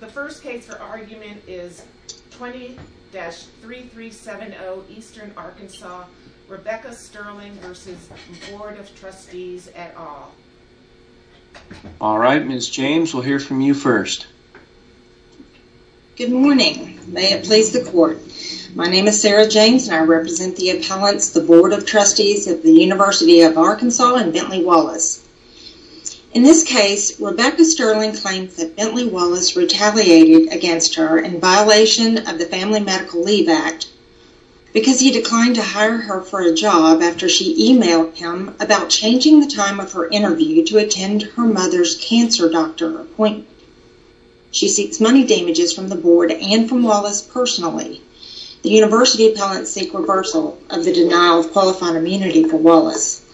The first case for argument is 20-3370 Eastern Arkansas, Rebecca Sterling v. Board of Trustees et al. Alright, Ms. James, we'll hear from you first. Good morning, may it please the court. My name is Sarah James and I represent the appellants, the Board of Trustees of the University of Arkansas and Bentley Wallace. In this case, Rebecca Sterling claims that Bentley Wallace retaliated against her in violation of the Family Medical Leave Act because he declined to hire her for a job after she emailed him about changing the time of her interview to attend her mother's cancer doctor appointment. She seeks money damages from the board and from Wallace personally. The University appellants seek reversal of the denial of qualified immunity for Wallace.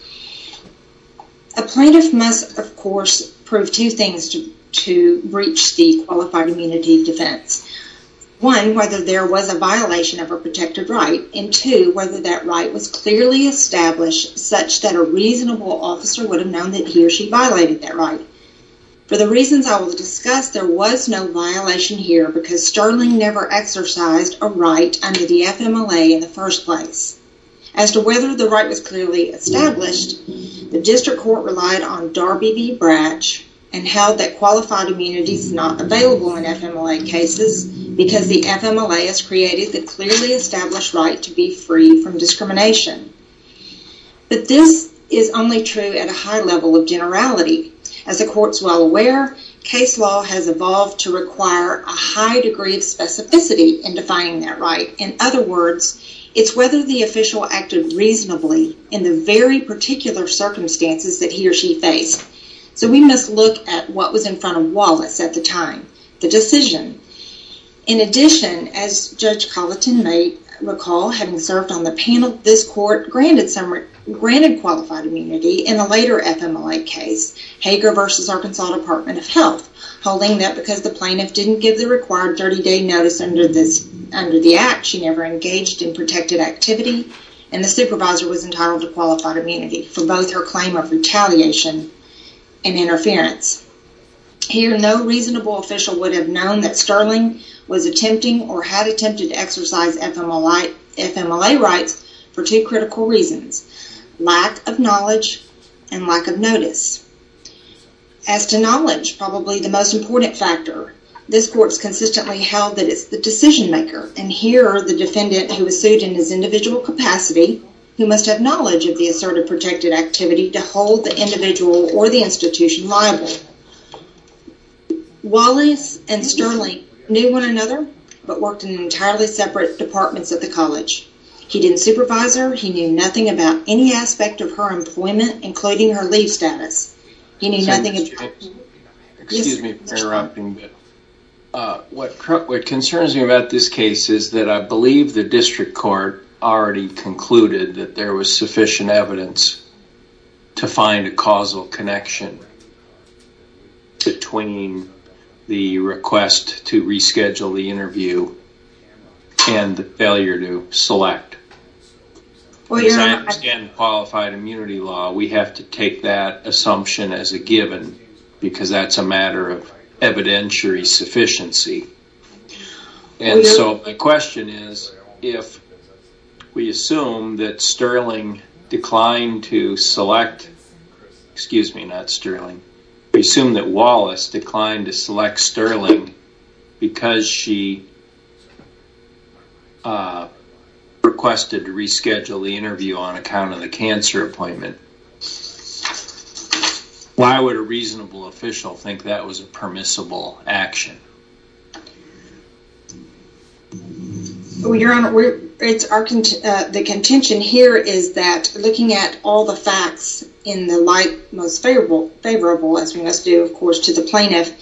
A plaintiff must, of course, prove two things to breach the qualified immunity defense. One, whether there was a violation of her protected right and two, whether that right was clearly established such that a reasonable officer would have known that he or she violated that right. For the reasons I will discuss, there was no violation here because Sterling never exercised a right under the FMLA in the first place. As to whether the right was clearly established, the district court relied on Darby v. Bratch and held that qualified immunity is not available in FMLA cases because the FMLA has created the clearly established right to be free from discrimination. But this is only true at a high level of generality. As the court's well aware, case law has evolved to require a high degree of specificity in defining that right. In other words, it's whether the official acted reasonably in the very particular circumstances that he or she faced. So we must look at what was in front of Wallace at the time, the decision. In addition, as Judge Colleton may recall, having served on the panel, this court granted qualified immunity in the later FMLA case, Hager v. Arkansas Department of Health, holding that because the plaintiff didn't give the required 30-day notice under the act, she never engaged in protected activity, and the supervisor was entitled to qualified immunity for both her claim of retaliation and interference. Here, no reasonable official would have known that Sterling was attempting or had attempted to exercise FMLA rights for two critical reasons, lack of knowledge and lack of notice. As to knowledge, probably the most important factor, this court's consistently held that it's the decision maker, and here the defendant who was sued in his individual capacity, who must have knowledge of the asserted protected activity to hold the individual or the institution liable. Wallace and Sterling knew one another, but worked in entirely separate departments at the college. He didn't supervise her, he knew nothing about any aspect of her employment, including her leave status. Excuse me for interrupting, but what concerns me about this case is that I believe the district court already concluded that there was sufficient evidence to find a causal connection between the request to reschedule the interview and the failure to select. As I understand the qualified immunity law, we have to take that assumption as a given, because that's a matter of evidentiary sufficiency. And so my question is, if we assume that Sterling declined to select, excuse me, not Sterling, we assume that Wallace declined to select Sterling because she requested to reschedule the interview on account of the cancer appointment, why would a reasonable official think that was a permissible action? Your Honor, the contention here is that looking at all the facts in the light most favorable, as we must do, of course, to the plaintiff,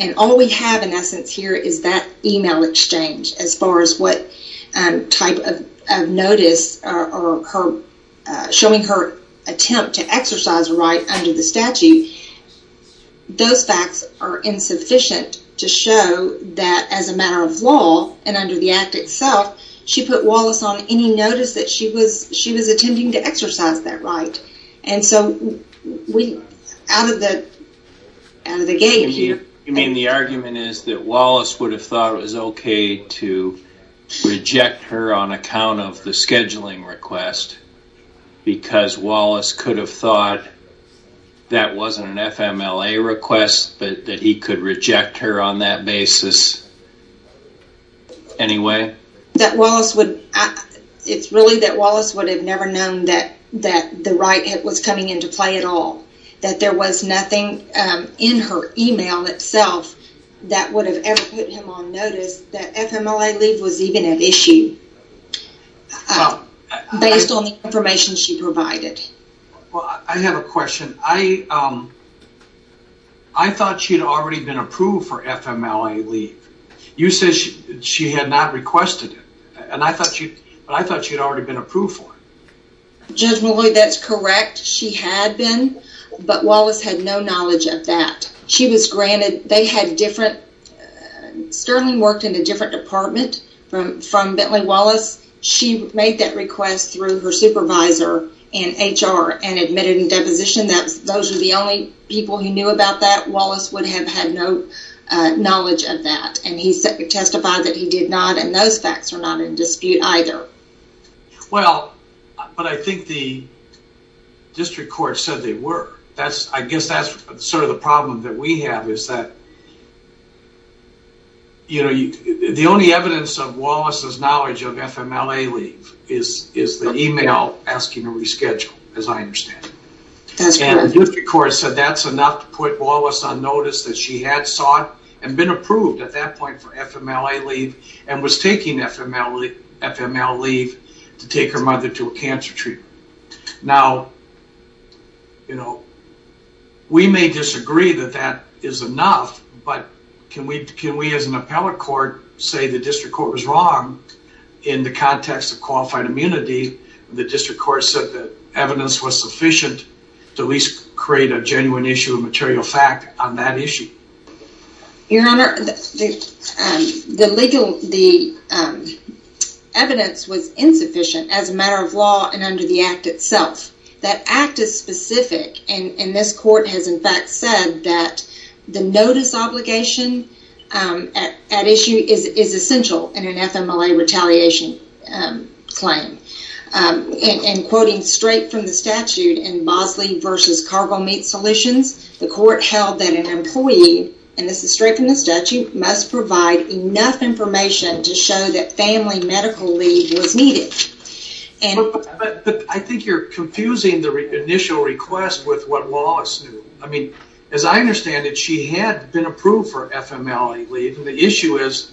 and all we have in essence here is that email exchange, as far as what type of notice showing her attempt to exercise a right under the statute, those facts are insufficient to show that as a matter of law and under the act itself, she put Wallace on any notice that she was attempting to exercise that right. And so out of the gate here... You mean the argument is that Wallace would have thought it was okay to reject her on account of the scheduling request because Wallace could have thought that wasn't an FMLA request, that he could reject her on that basis anyway? It's really that Wallace would have never known that the right was coming into play at all, that there was nothing in her email itself that would have ever put him on notice that FMLA leave was even an issue, based on the information she provided. Well, I have a question. I thought she had already been approved for FMLA leave. You said she had not requested it, but I thought she had already been approved for it. Judge McLeod, that's correct. She had been, but Wallace had no knowledge of that. Sterling worked in a different department from Bentley Wallace. She made that request through her supervisor in HR and admitted in deposition that those are the only people who knew about that. Wallace would have had no knowledge of that, and he testified that he did not, and those facts are not in dispute either. Well, but I think the district court said they were. I guess that's sort of the problem that we have is that the only evidence of Wallace's knowledge of FMLA leave is the email asking to reschedule, as I understand it. That's correct. And the district court said that's enough to put Wallace on notice that she had sought and been approved at that point for FMLA leave and was taking FMLA leave to take her mother to a cancer treatment. Now, you know, we may disagree that that is enough, but can we as an appellate court say the district court was wrong in the context of qualified immunity? The district court said that evidence was sufficient to at least create a genuine issue of material fact on that issue. Your Honor, the evidence was insufficient as a matter of law and under the act itself. That act is specific, and this court has in fact said that the notice obligation at issue is essential in an FMLA retaliation claim. And quoting straight from the statute in Mosley v. Cargill Meat Solutions, the court held that an employee, and this is straight from the statute, must provide enough information to show that family medical leave was needed. But I think you're confusing the initial request with what Wallace knew. I mean, as I understand it, she had been approved for FMLA leave, and the issue is,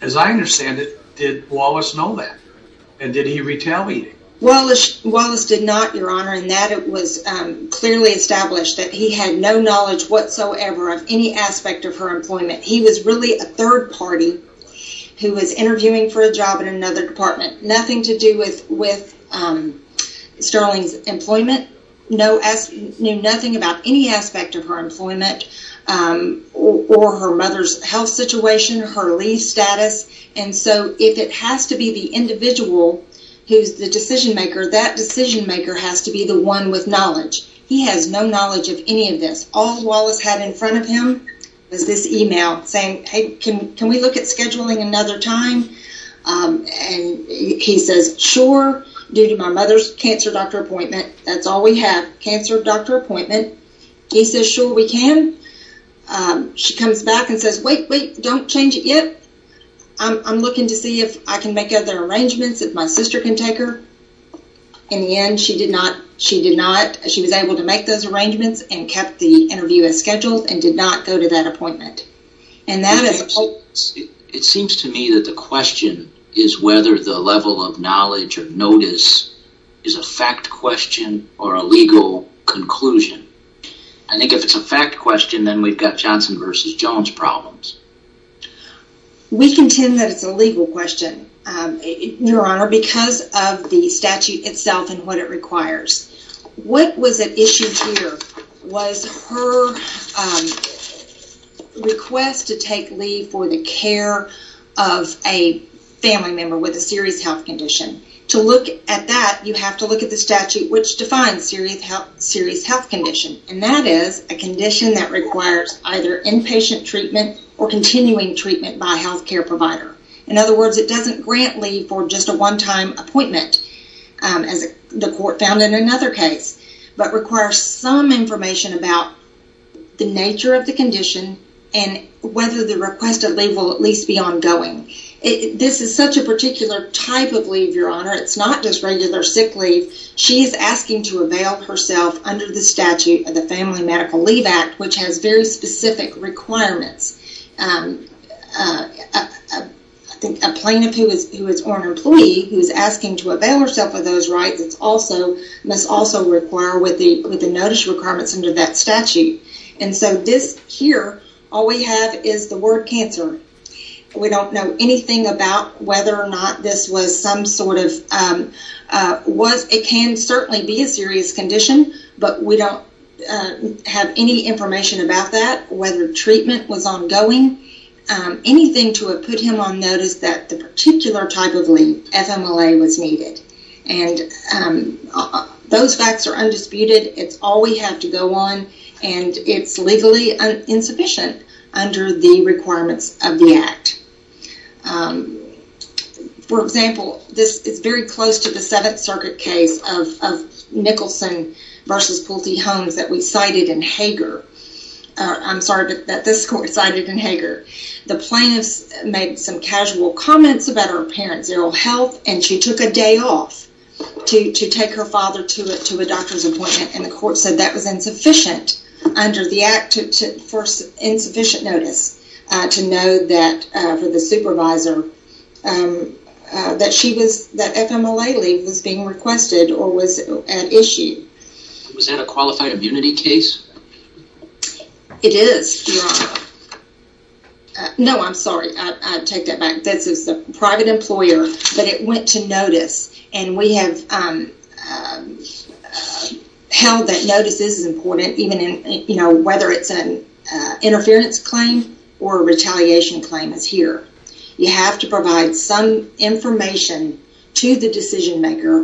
as I understand it, did Wallace know that? And did he retaliate? Wallace did not, Your Honor, in that it was clearly established that he had no knowledge whatsoever of any aspect of her employment. He was really a third party who was interviewing for a job in another department. Nothing to do with Sterling's employment, knew nothing about any aspect of her employment or her mother's health situation, her leave status. And so if it has to be the individual who's the decision maker, that decision maker has to be the one with knowledge. He has no knowledge of any of this. All Wallace had in front of him was this email saying, hey, can we look at scheduling another time? And he says, sure, due to my mother's cancer doctor appointment. That's all we have, cancer doctor appointment. He says, sure, we can. She comes back and says, wait, wait, don't change it yet. I'm looking to see if I can make other arrangements, if my sister can take her. In the end, she did not. She did not. She was able to make those arrangements and kept the interview as scheduled and did not go to that appointment. It seems to me that the question is whether the level of knowledge or notice is a fact question or a legal conclusion. I think if it's a fact question, then we've got Johnson versus Jones problems. We contend that it's a legal question, Your Honor, because of the statute itself and what it requires. What was at issue here was her request to take leave for the care of a family member with a serious health condition. To look at that, you have to look at the statute, which defines serious health condition. And that is a condition that requires either inpatient treatment or continuing treatment by a health care provider. In other words, it doesn't grant leave for just a one time appointment, as the court found in another case, but requires some information about the nature of the condition and whether the request of leave will at least be ongoing. This is such a particular type of leave, Your Honor. It's not just regular sick leave. She's asking to avail herself under the statute of the Family Medical Leave Act, which has very specific requirements. I think a plaintiff who is or an employee who is asking to avail herself of those rights must also require the notice requirements under that statute. And so this here, all we have is the word cancer. We don't know anything about whether or not this was some sort of, it can certainly be a serious condition, but we don't have any information about that, whether treatment was ongoing, anything to put him on notice that the particular type of leave, FMLA, was needed. And those facts are undisputed. It's all we have to go on, and it's legally insufficient under the requirements of the act. For example, this is very close to the Seventh Circuit case of Nicholson versus Pulte-Holmes that we cited in Hager. I'm sorry, that this court cited in Hager. The plaintiff made some casual comments about her apparent zero health, and she took a day off to take her father to a doctor's appointment, and the court said that was insufficient under the act for insufficient notice to know that, for the supervisor, that FMLA leave was being requested or was at issue. Was that a qualified immunity case? It is, Your Honor. No, I'm sorry, I take that back. This is the private employer, but it went to notice, and we have held that notice is important, even whether it's an interference claim or a retaliation claim is here. You have to provide some information to the decision maker,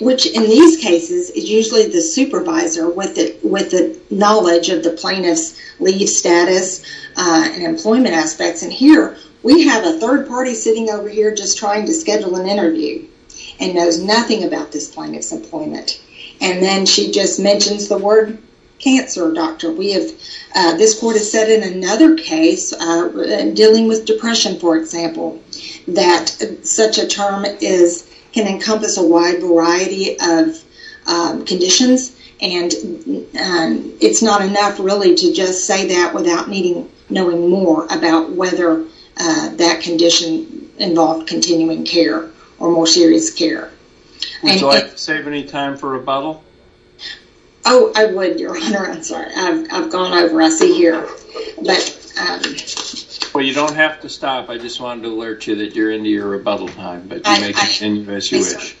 which in these cases is usually the supervisor with the knowledge of the plaintiff's leave status and employment aspects, and here we have a third party sitting over here just trying to schedule an interview and knows nothing about this plaintiff's employment, and then she just mentions the word cancer, doctor. This court has said in another case dealing with depression, for example, that such a term can encompass a wide variety of conditions, and it's not enough really to just say that without knowing more about whether that condition involved continuing care or more serious care. Do I have to save any time for rebuttal? Oh, I would, Your Honor, I'm sorry. I've gone over, I see here. Well, you don't have to stop. I just wanted to alert you that you're into your rebuttal time, but you may continue as you wish.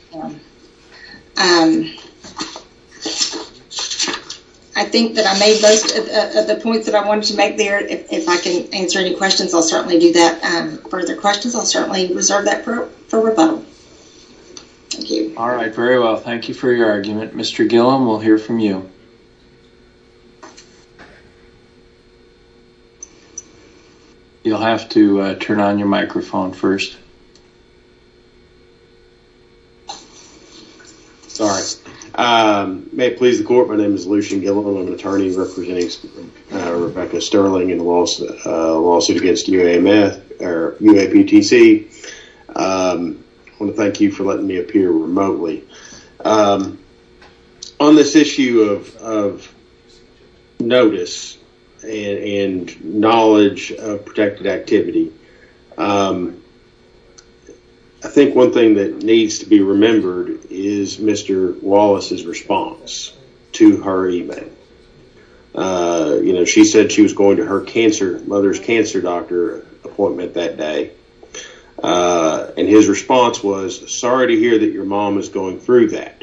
I think that I made most of the points that I wanted to make there. If I can answer any questions, I'll certainly do that. Further questions, I'll certainly reserve that for rebuttal. Thank you. All right, very well. Thank you for your argument. Mr. Gillum, we'll hear from you. You'll have to turn on your microphone first. Sorry. May it please the court, my name is Lucian Gillum. I'm an attorney representing Rebecca Sterling in the lawsuit against UAPTC. I want to thank you for letting me appear remotely. On this issue of notice and knowledge of protected activity, I think one thing that needs to be remembered is Mr. Wallace's response to her email. She said she was going to her cancer, mother's cancer doctor appointment that day. His response was, sorry to hear that your mom is going through that.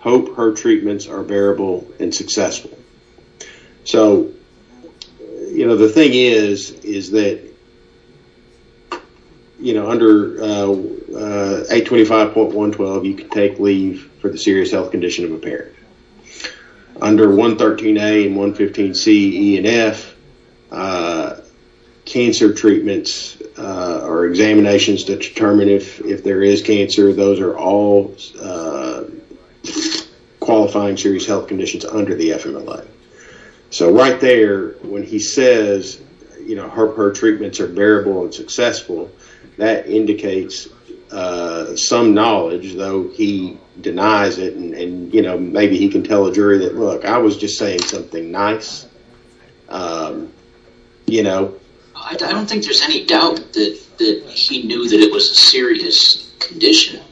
Hope her treatments are bearable and successful. The thing is that under 825.112, you can take leave for the serious health condition of a parent. Under 113A and 115C, E and F, cancer treatments or examinations to determine if there is cancer, those are all qualifying serious health conditions under the FMLA. Right there when he says her treatments are bearable and successful, that indicates some knowledge, though he denies it. Maybe he can tell a jury that I was just saying something nice. I don't think there's any doubt that he knew it was a serious condition.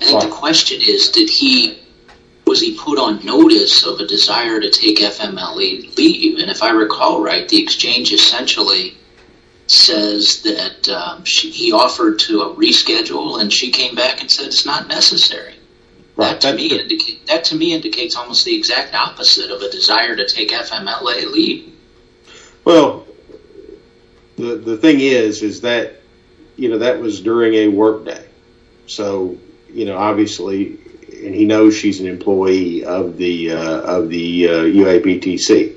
The question is, was he put on notice of a desire to take FMLA leave? If I recall right, the exchange essentially says that he offered to reschedule and she came back and said it's not necessary. That to me indicates almost the exact opposite of a desire to take FMLA leave. The thing is that that was during a work day. He knows she's an employee of the UAPTC.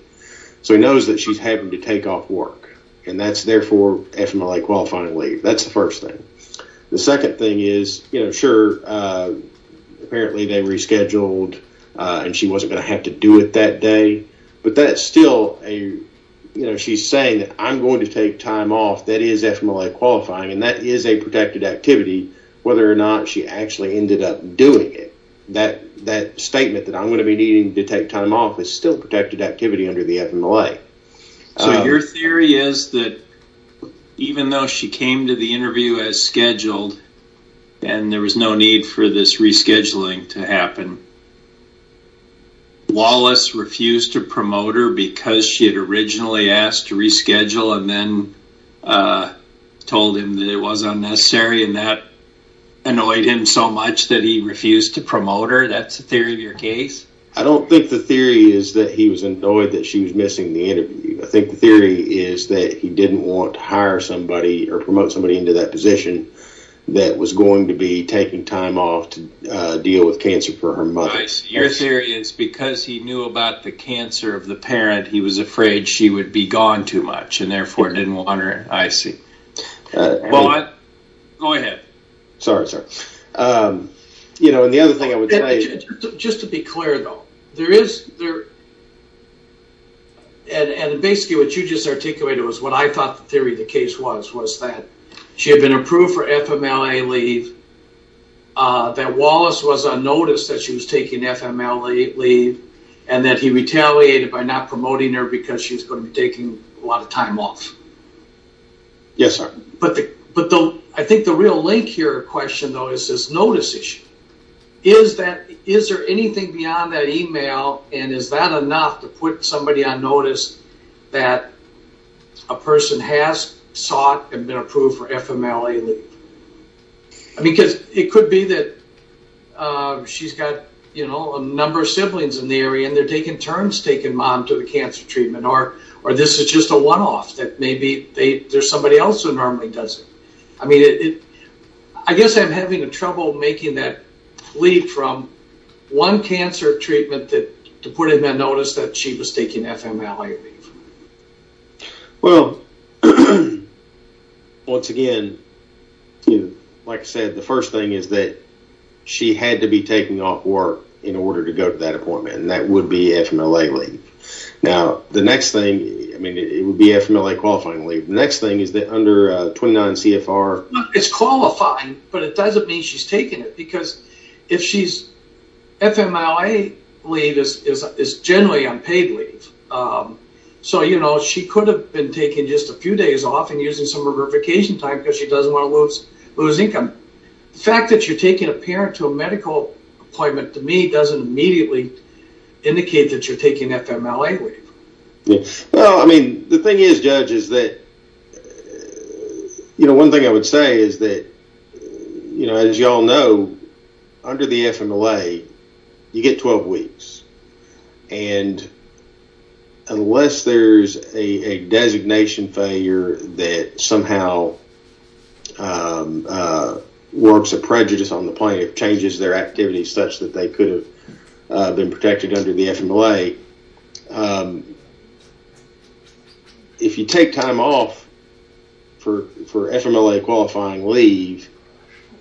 He knows that she's having to take off work and that's therefore FMLA qualifying leave. That's the first thing. The second thing is, sure, apparently they rescheduled and she wasn't going to have to do it that day. She's saying that I'm going to take time off, that is FMLA qualifying, and that is a protected activity whether or not she actually ended up doing it. That statement that I'm going to be needing to take time off is still protected activity under the FMLA. Your theory is that even though she came to the interview as scheduled and there was no need for this rescheduling to happen, Wallace refused to promote her because she had originally asked to reschedule and then told him that it wasn't necessary and that annoyed him so much that he refused to promote her. That's the theory of your case? I don't think the theory is that he was annoyed that she was missing the interview. I think the theory is that he didn't want to hire somebody or promote somebody into that position that was going to be taking time off to deal with cancer for her mother. Your theory is because he knew about the cancer of the parent, he was afraid she would be gone too much and therefore didn't want her. I see. Go ahead. Sorry. And the other thing I would say... Just to be clear though, there is... And basically what you just articulated was what I thought the theory of the case was, was that she had been approved for FMLA leave, that Wallace was on notice that she was taking FMLA leave and that he retaliated by not promoting her because she was going to be taking a lot of time off. Yes, sir. But I think the real link here or question though is this notice issue. Is there anything beyond that email and is that enough to put somebody on notice that a person has sought and been approved for FMLA leave? Because it could be that she's got a number of siblings in the area and they're taking turns taking mom to the cancer treatment or this is just a one-off that maybe there's somebody else who normally does it. I mean, I guess I'm having trouble making that leap from one cancer treatment to putting that notice that she was taking FMLA leave. Well, once again, like I said, the first thing is that she had to be taking off work in order to go to that appointment and that would be FMLA leave. Now, the next thing, I mean, it would be FMLA qualifying leave. The next thing is that under 29 CFR… It's qualifying, but it doesn't mean she's taking it because if she's… FMLA leave is generally unpaid leave. So, you know, she could have been taking just a few days off and using some of her vacation time because she doesn't want to lose income. The fact that you're taking a parent to a medical appointment to me doesn't immediately indicate that you're taking FMLA leave. Well, I mean, the thing is, Judge, is that, you know, one thing I would say is that, you know, as you all know, under the FMLA, you get 12 weeks and unless there's a designation failure that somehow works a prejudice on the point of changes their activities such that they could have been protected under the FMLA, if you take time off for FMLA qualifying leave,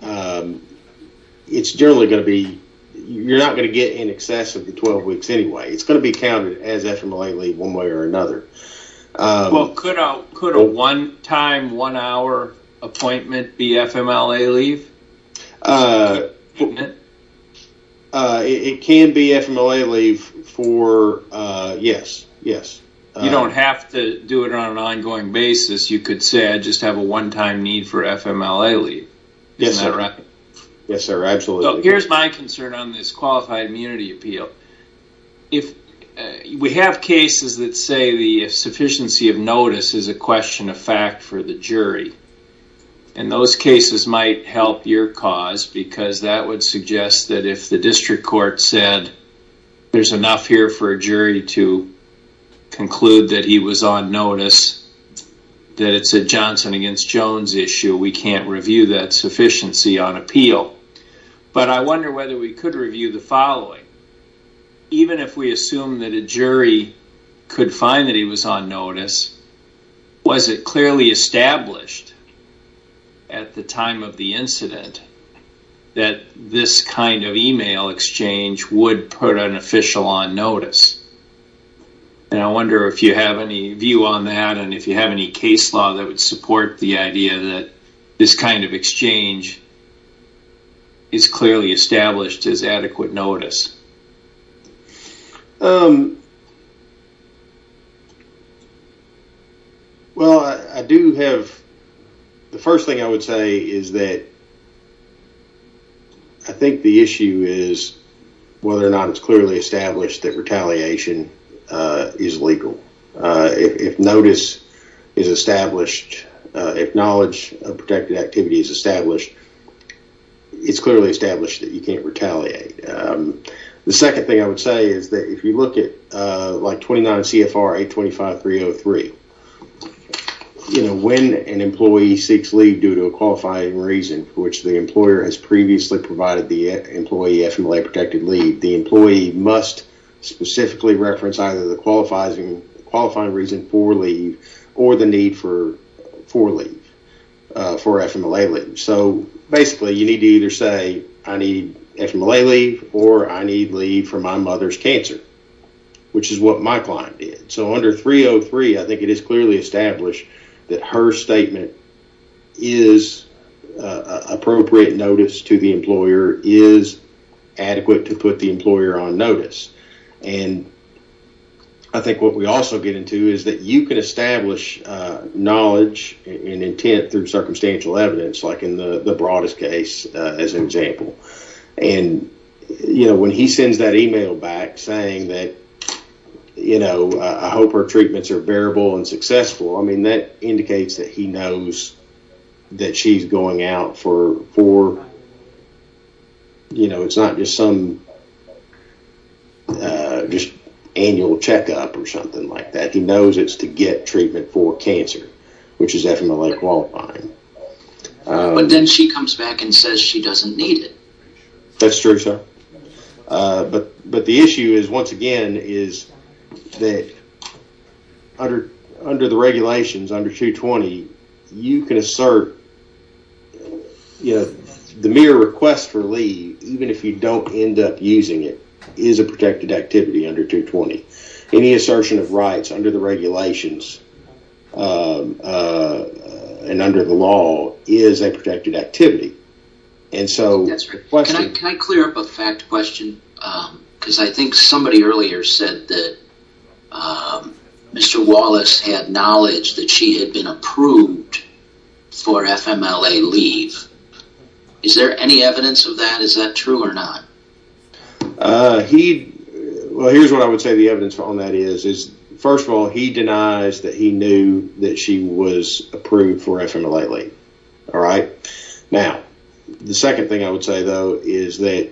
it's generally going to be… You're not going to get in excess of the 12 weeks anyway. It's going to be counted as FMLA leave one way or another. Well, could a one-time, one-hour appointment be FMLA leave? It can be FMLA leave for, yes, yes. You don't have to do it on an ongoing basis. You could say, I just have a one-time need for FMLA leave. Yes, sir. Isn't that right? Yes, sir, absolutely. Here's my concern on this qualified immunity appeal. We have cases that say the sufficiency of notice is a question of fact for the jury and those cases might help your cause because that would suggest that if the district court said there's enough here for a jury to conclude that he was on notice, that it's a Johnson against Jones issue, we can't review that sufficiency on appeal. But I wonder whether we could review the following. Even if we assume that a jury could find that he was on notice, was it clearly established at the time of the incident that this kind of email exchange would put an official on notice? And I wonder if you have any view on that and if you have any case law that would support the idea that this kind of exchange is clearly established as adequate notice. Well, I do have... The first thing I would say is that I think the issue is whether or not it's clearly established that retaliation is legal. If notice is established, if knowledge of protected activity is established, it's clearly established that you can't retaliate. The second thing I would say is that if you look at like 29 CFRA 25303, when an employee seeks leave due to a qualifying reason for which the employer has previously provided the employee FMLA-protected leave, the employee must specifically reference either the qualifying reason for leave or the need for leave, for FMLA leave. So basically, you need to either say, I need FMLA leave or I need leave for my mother's cancer, which is what my client did. So under 303, I think it is clearly established that her statement is appropriate notice to the employer, is adequate to put the employer on notice. And I think what we also get into is that you can establish knowledge and intent through circumstantial evidence, like in the broadest case, as an example. And when he sends that email back saying that, you know, I hope her treatments are bearable and successful. I mean, that indicates that he knows that she's going out for, you know, it's not just some annual checkup or something like that. He knows it's to get treatment for cancer, which is FMLA qualifying. But then she comes back and says she doesn't need it. That's true, sir. But the issue is, once again, is that under the regulations, under 220, you can assert, you know, the mere request for leave, even if you don't end up using it, is a protected activity under 220. Any assertion of rights under the regulations and under the law is a protected activity. That's right. Can I clear up a fact question? Because I think somebody earlier said that Mr. Wallace had knowledge that she had been approved for FMLA leave. Is there any evidence of that? Is that true or not? Well, here's what I would say the evidence on that is. First of all, he denies that he knew that she was approved for FMLA leave. All right. Now, the second thing I would say, though, is that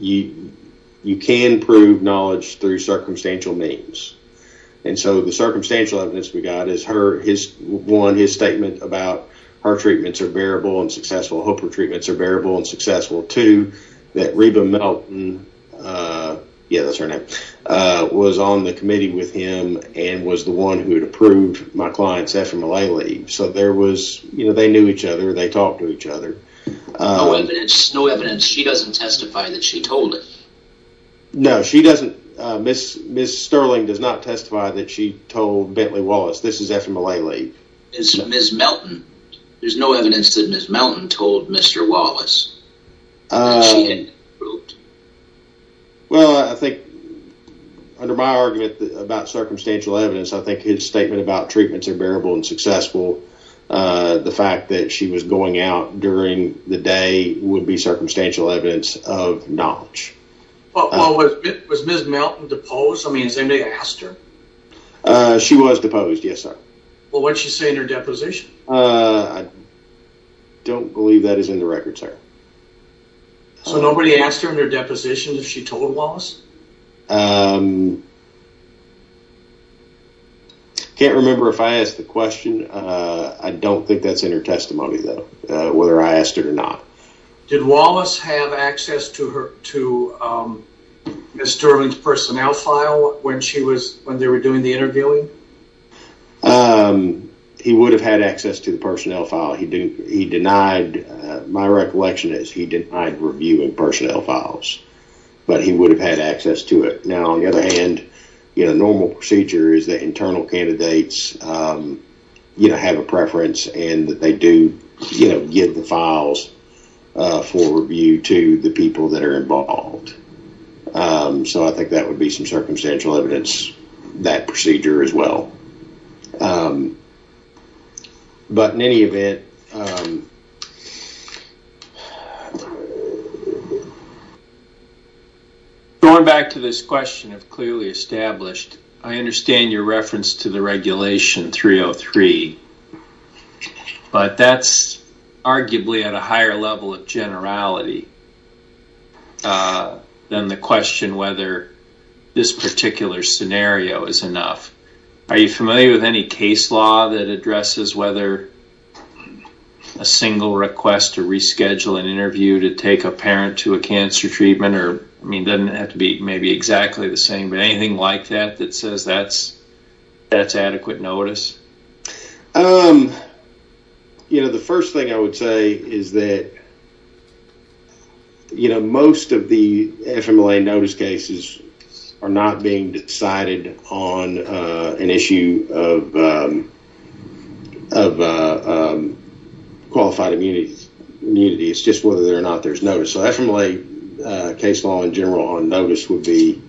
you can prove knowledge through circumstantial means. And so the circumstantial evidence we got is one, his statement about her treatments are bearable and successful, her treatments are bearable and successful. Two, that Reba Melton, yeah, that's her name, was on the committee with him and was the one who had approved my client's FMLA leave. So there was, you know, they knew each other. They talked to each other. No evidence, no evidence. She doesn't testify that she told it. No, she doesn't. Ms. Sterling does not testify that she told Bentley Wallace, this is FMLA leave. Ms. Melton, there's no evidence that Ms. Melton told Mr. Wallace that she had been approved. Well, I think under my argument about circumstantial evidence, I think his statement about treatments are bearable and successful. The fact that she was going out during the day would be circumstantial evidence of knowledge. Was Ms. Melton deposed? I mean, has anybody asked her? She was deposed, yes, sir. Well, what did she say in her deposition? I don't believe that is in the record, sir. So nobody asked her in her deposition if she told Wallace? Can't remember if I asked the question. I don't think that's in her testimony, though, whether I asked her or not. Did Wallace have access to Ms. Sterling's personnel file when they were doing the interviewing? He would have had access to the personnel file. My recollection is he denied reviewing personnel files, but he would have had access to it. Now, on the other hand, a normal procedure is that internal candidates have a preference and that they do give the files for review to the people that are involved. So I think that would be some circumstantial evidence, that procedure as well. But in any event... Going back to this question of clearly established, I understand your reference to the Regulation 303, but that's arguably at a higher level of generality than the question whether this particular scenario is enough. Are you familiar with any case law that addresses whether a single request to reschedule an interview to take a parent to a cancer treatment doesn't have to be maybe exactly the same, but anything like that that says that's adequate notice? The first thing I would say is that most of the FMLA notice cases are not being decided on an issue of qualified immunity. It's just whether or not there's notice. So FMLA case law in general on notice would be...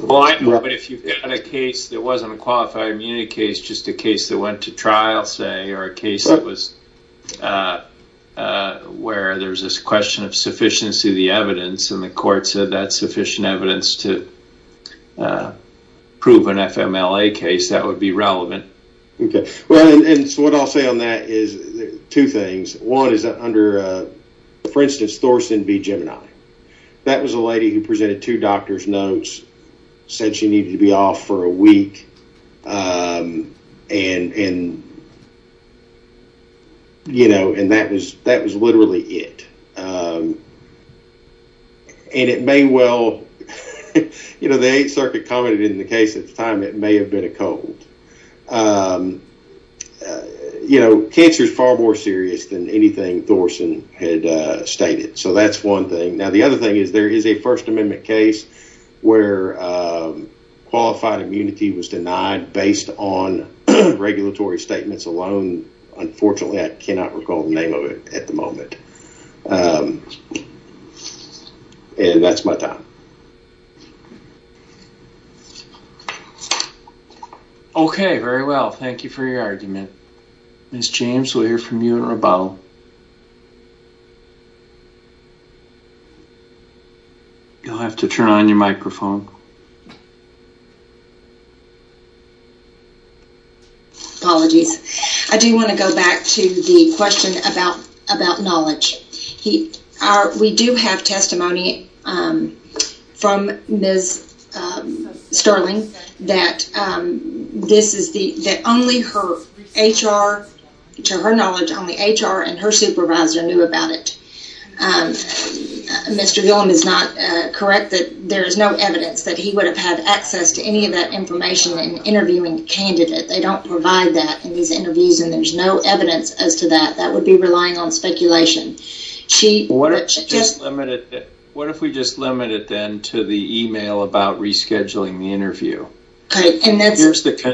Well, I know, but if you've got a case that wasn't a qualified immunity case, just a case that went to trial, say, or a case that was where there was this question of sufficiency of the evidence and the court said that's sufficient evidence to prove an FMLA case, that would be relevant. Okay. Well, and so what I'll say on that is two things. One is that under, for instance, Thorson v. Gemini, that was a lady who presented two doctor's notes, said she needed to be off for a week, and that was literally it. And it may well... You know, the Eighth Circuit commented in the case at the time it may have been a cold. You know, cancer is far more serious than anything Thorson had stated. So that's one thing. Now, the other thing is there is a First Amendment case where qualified immunity was denied based on regulatory statements alone. Unfortunately, I cannot recall the name of it at the moment. And that's my time. Okay, very well. Thank you for your argument. Ms. James, we'll hear from you in rebuttal. You'll have to turn on your microphone. Apologies. I do want to go back to the question about knowledge. We do have testimony from Ms. Sterling that this is the... that only her HR, to her knowledge, only HR and her supervisor knew about it. Mr. Gillum is not correct that there is no evidence that he would have had access to any of that information in interviewing a candidate. They don't provide that in these interviews and there's no evidence as to that. That would be relying on speculation. What if we just limit it then to the email about rescheduling the interview? Okay, and that's...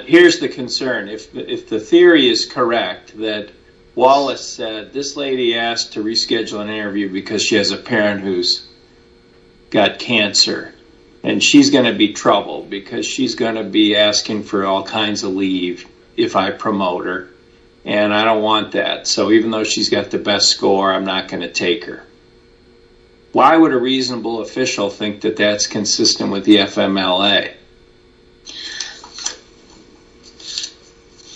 Here's the concern. If the theory is correct that Wallace said, this lady asked to reschedule an interview because she has a parent who's got cancer and she's going to be troubled because she's going to be asking for all kinds of leave if I promote her, and I don't want that. So even though she's got the best score, I'm not going to take her. Why would a reasonable official think that that's consistent with the FMLA?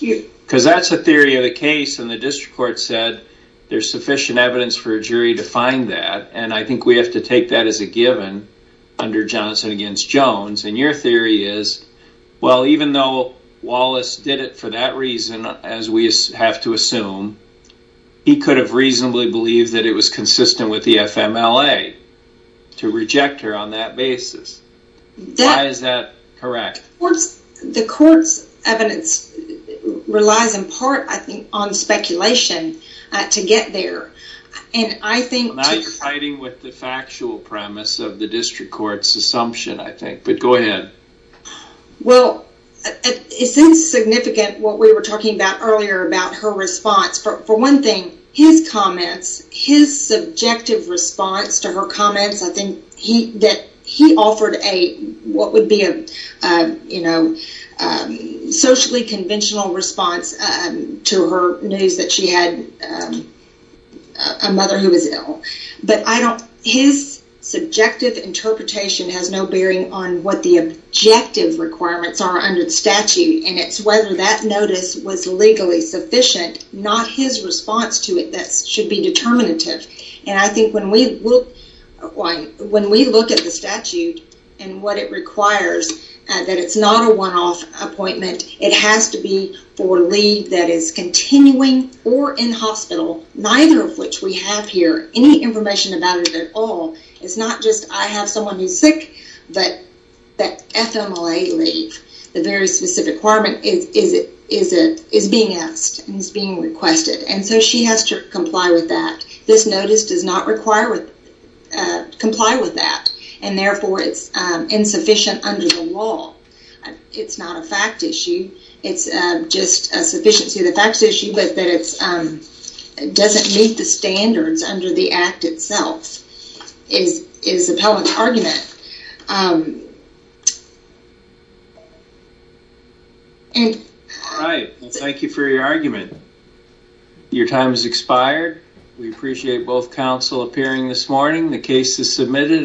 Because that's a theory of the case and the district court said there's sufficient evidence for a jury to find that, and I think we have to take that as a given under Johnson against Jones. And your theory is, well, even though Wallace did it for that reason, as we have to assume, he could have reasonably believed that it was consistent with the FMLA to reject her on that basis. Why is that correct? The court's evidence relies in part, I think, on speculation to get there, and I think... Now you're fighting with the factual premise of the district court's assumption, I think. But go ahead. Well, it seems significant what we were talking about earlier about her response. For one thing, his comments, his subjective response to her comments, I think that he offered what would be a socially conventional response to her news that she had a mother who was ill. But his subjective interpretation has no bearing on what the objective requirements are under the statute, and it's whether that notice was legally sufficient, not his response to it that should be determinative. And I think when we look at the statute and what it requires, that it's not a one-off appointment. It has to be for leave that is continuing or in hospital, neither of which we have here. Any information about it at all. It's not just I have someone who's sick, but that FMLA leave, the very specific requirement, is being asked, is being requested, and so she has to comply with that. This notice does not comply with that, and therefore it's insufficient under the law. It's not a fact issue. It's just a sufficiency of the facts issue, but that it doesn't meet the standards under the act itself. It is a public argument. All right. Thank you for your argument. Your time has expired. We appreciate both counsel appearing this morning. The case is submitted.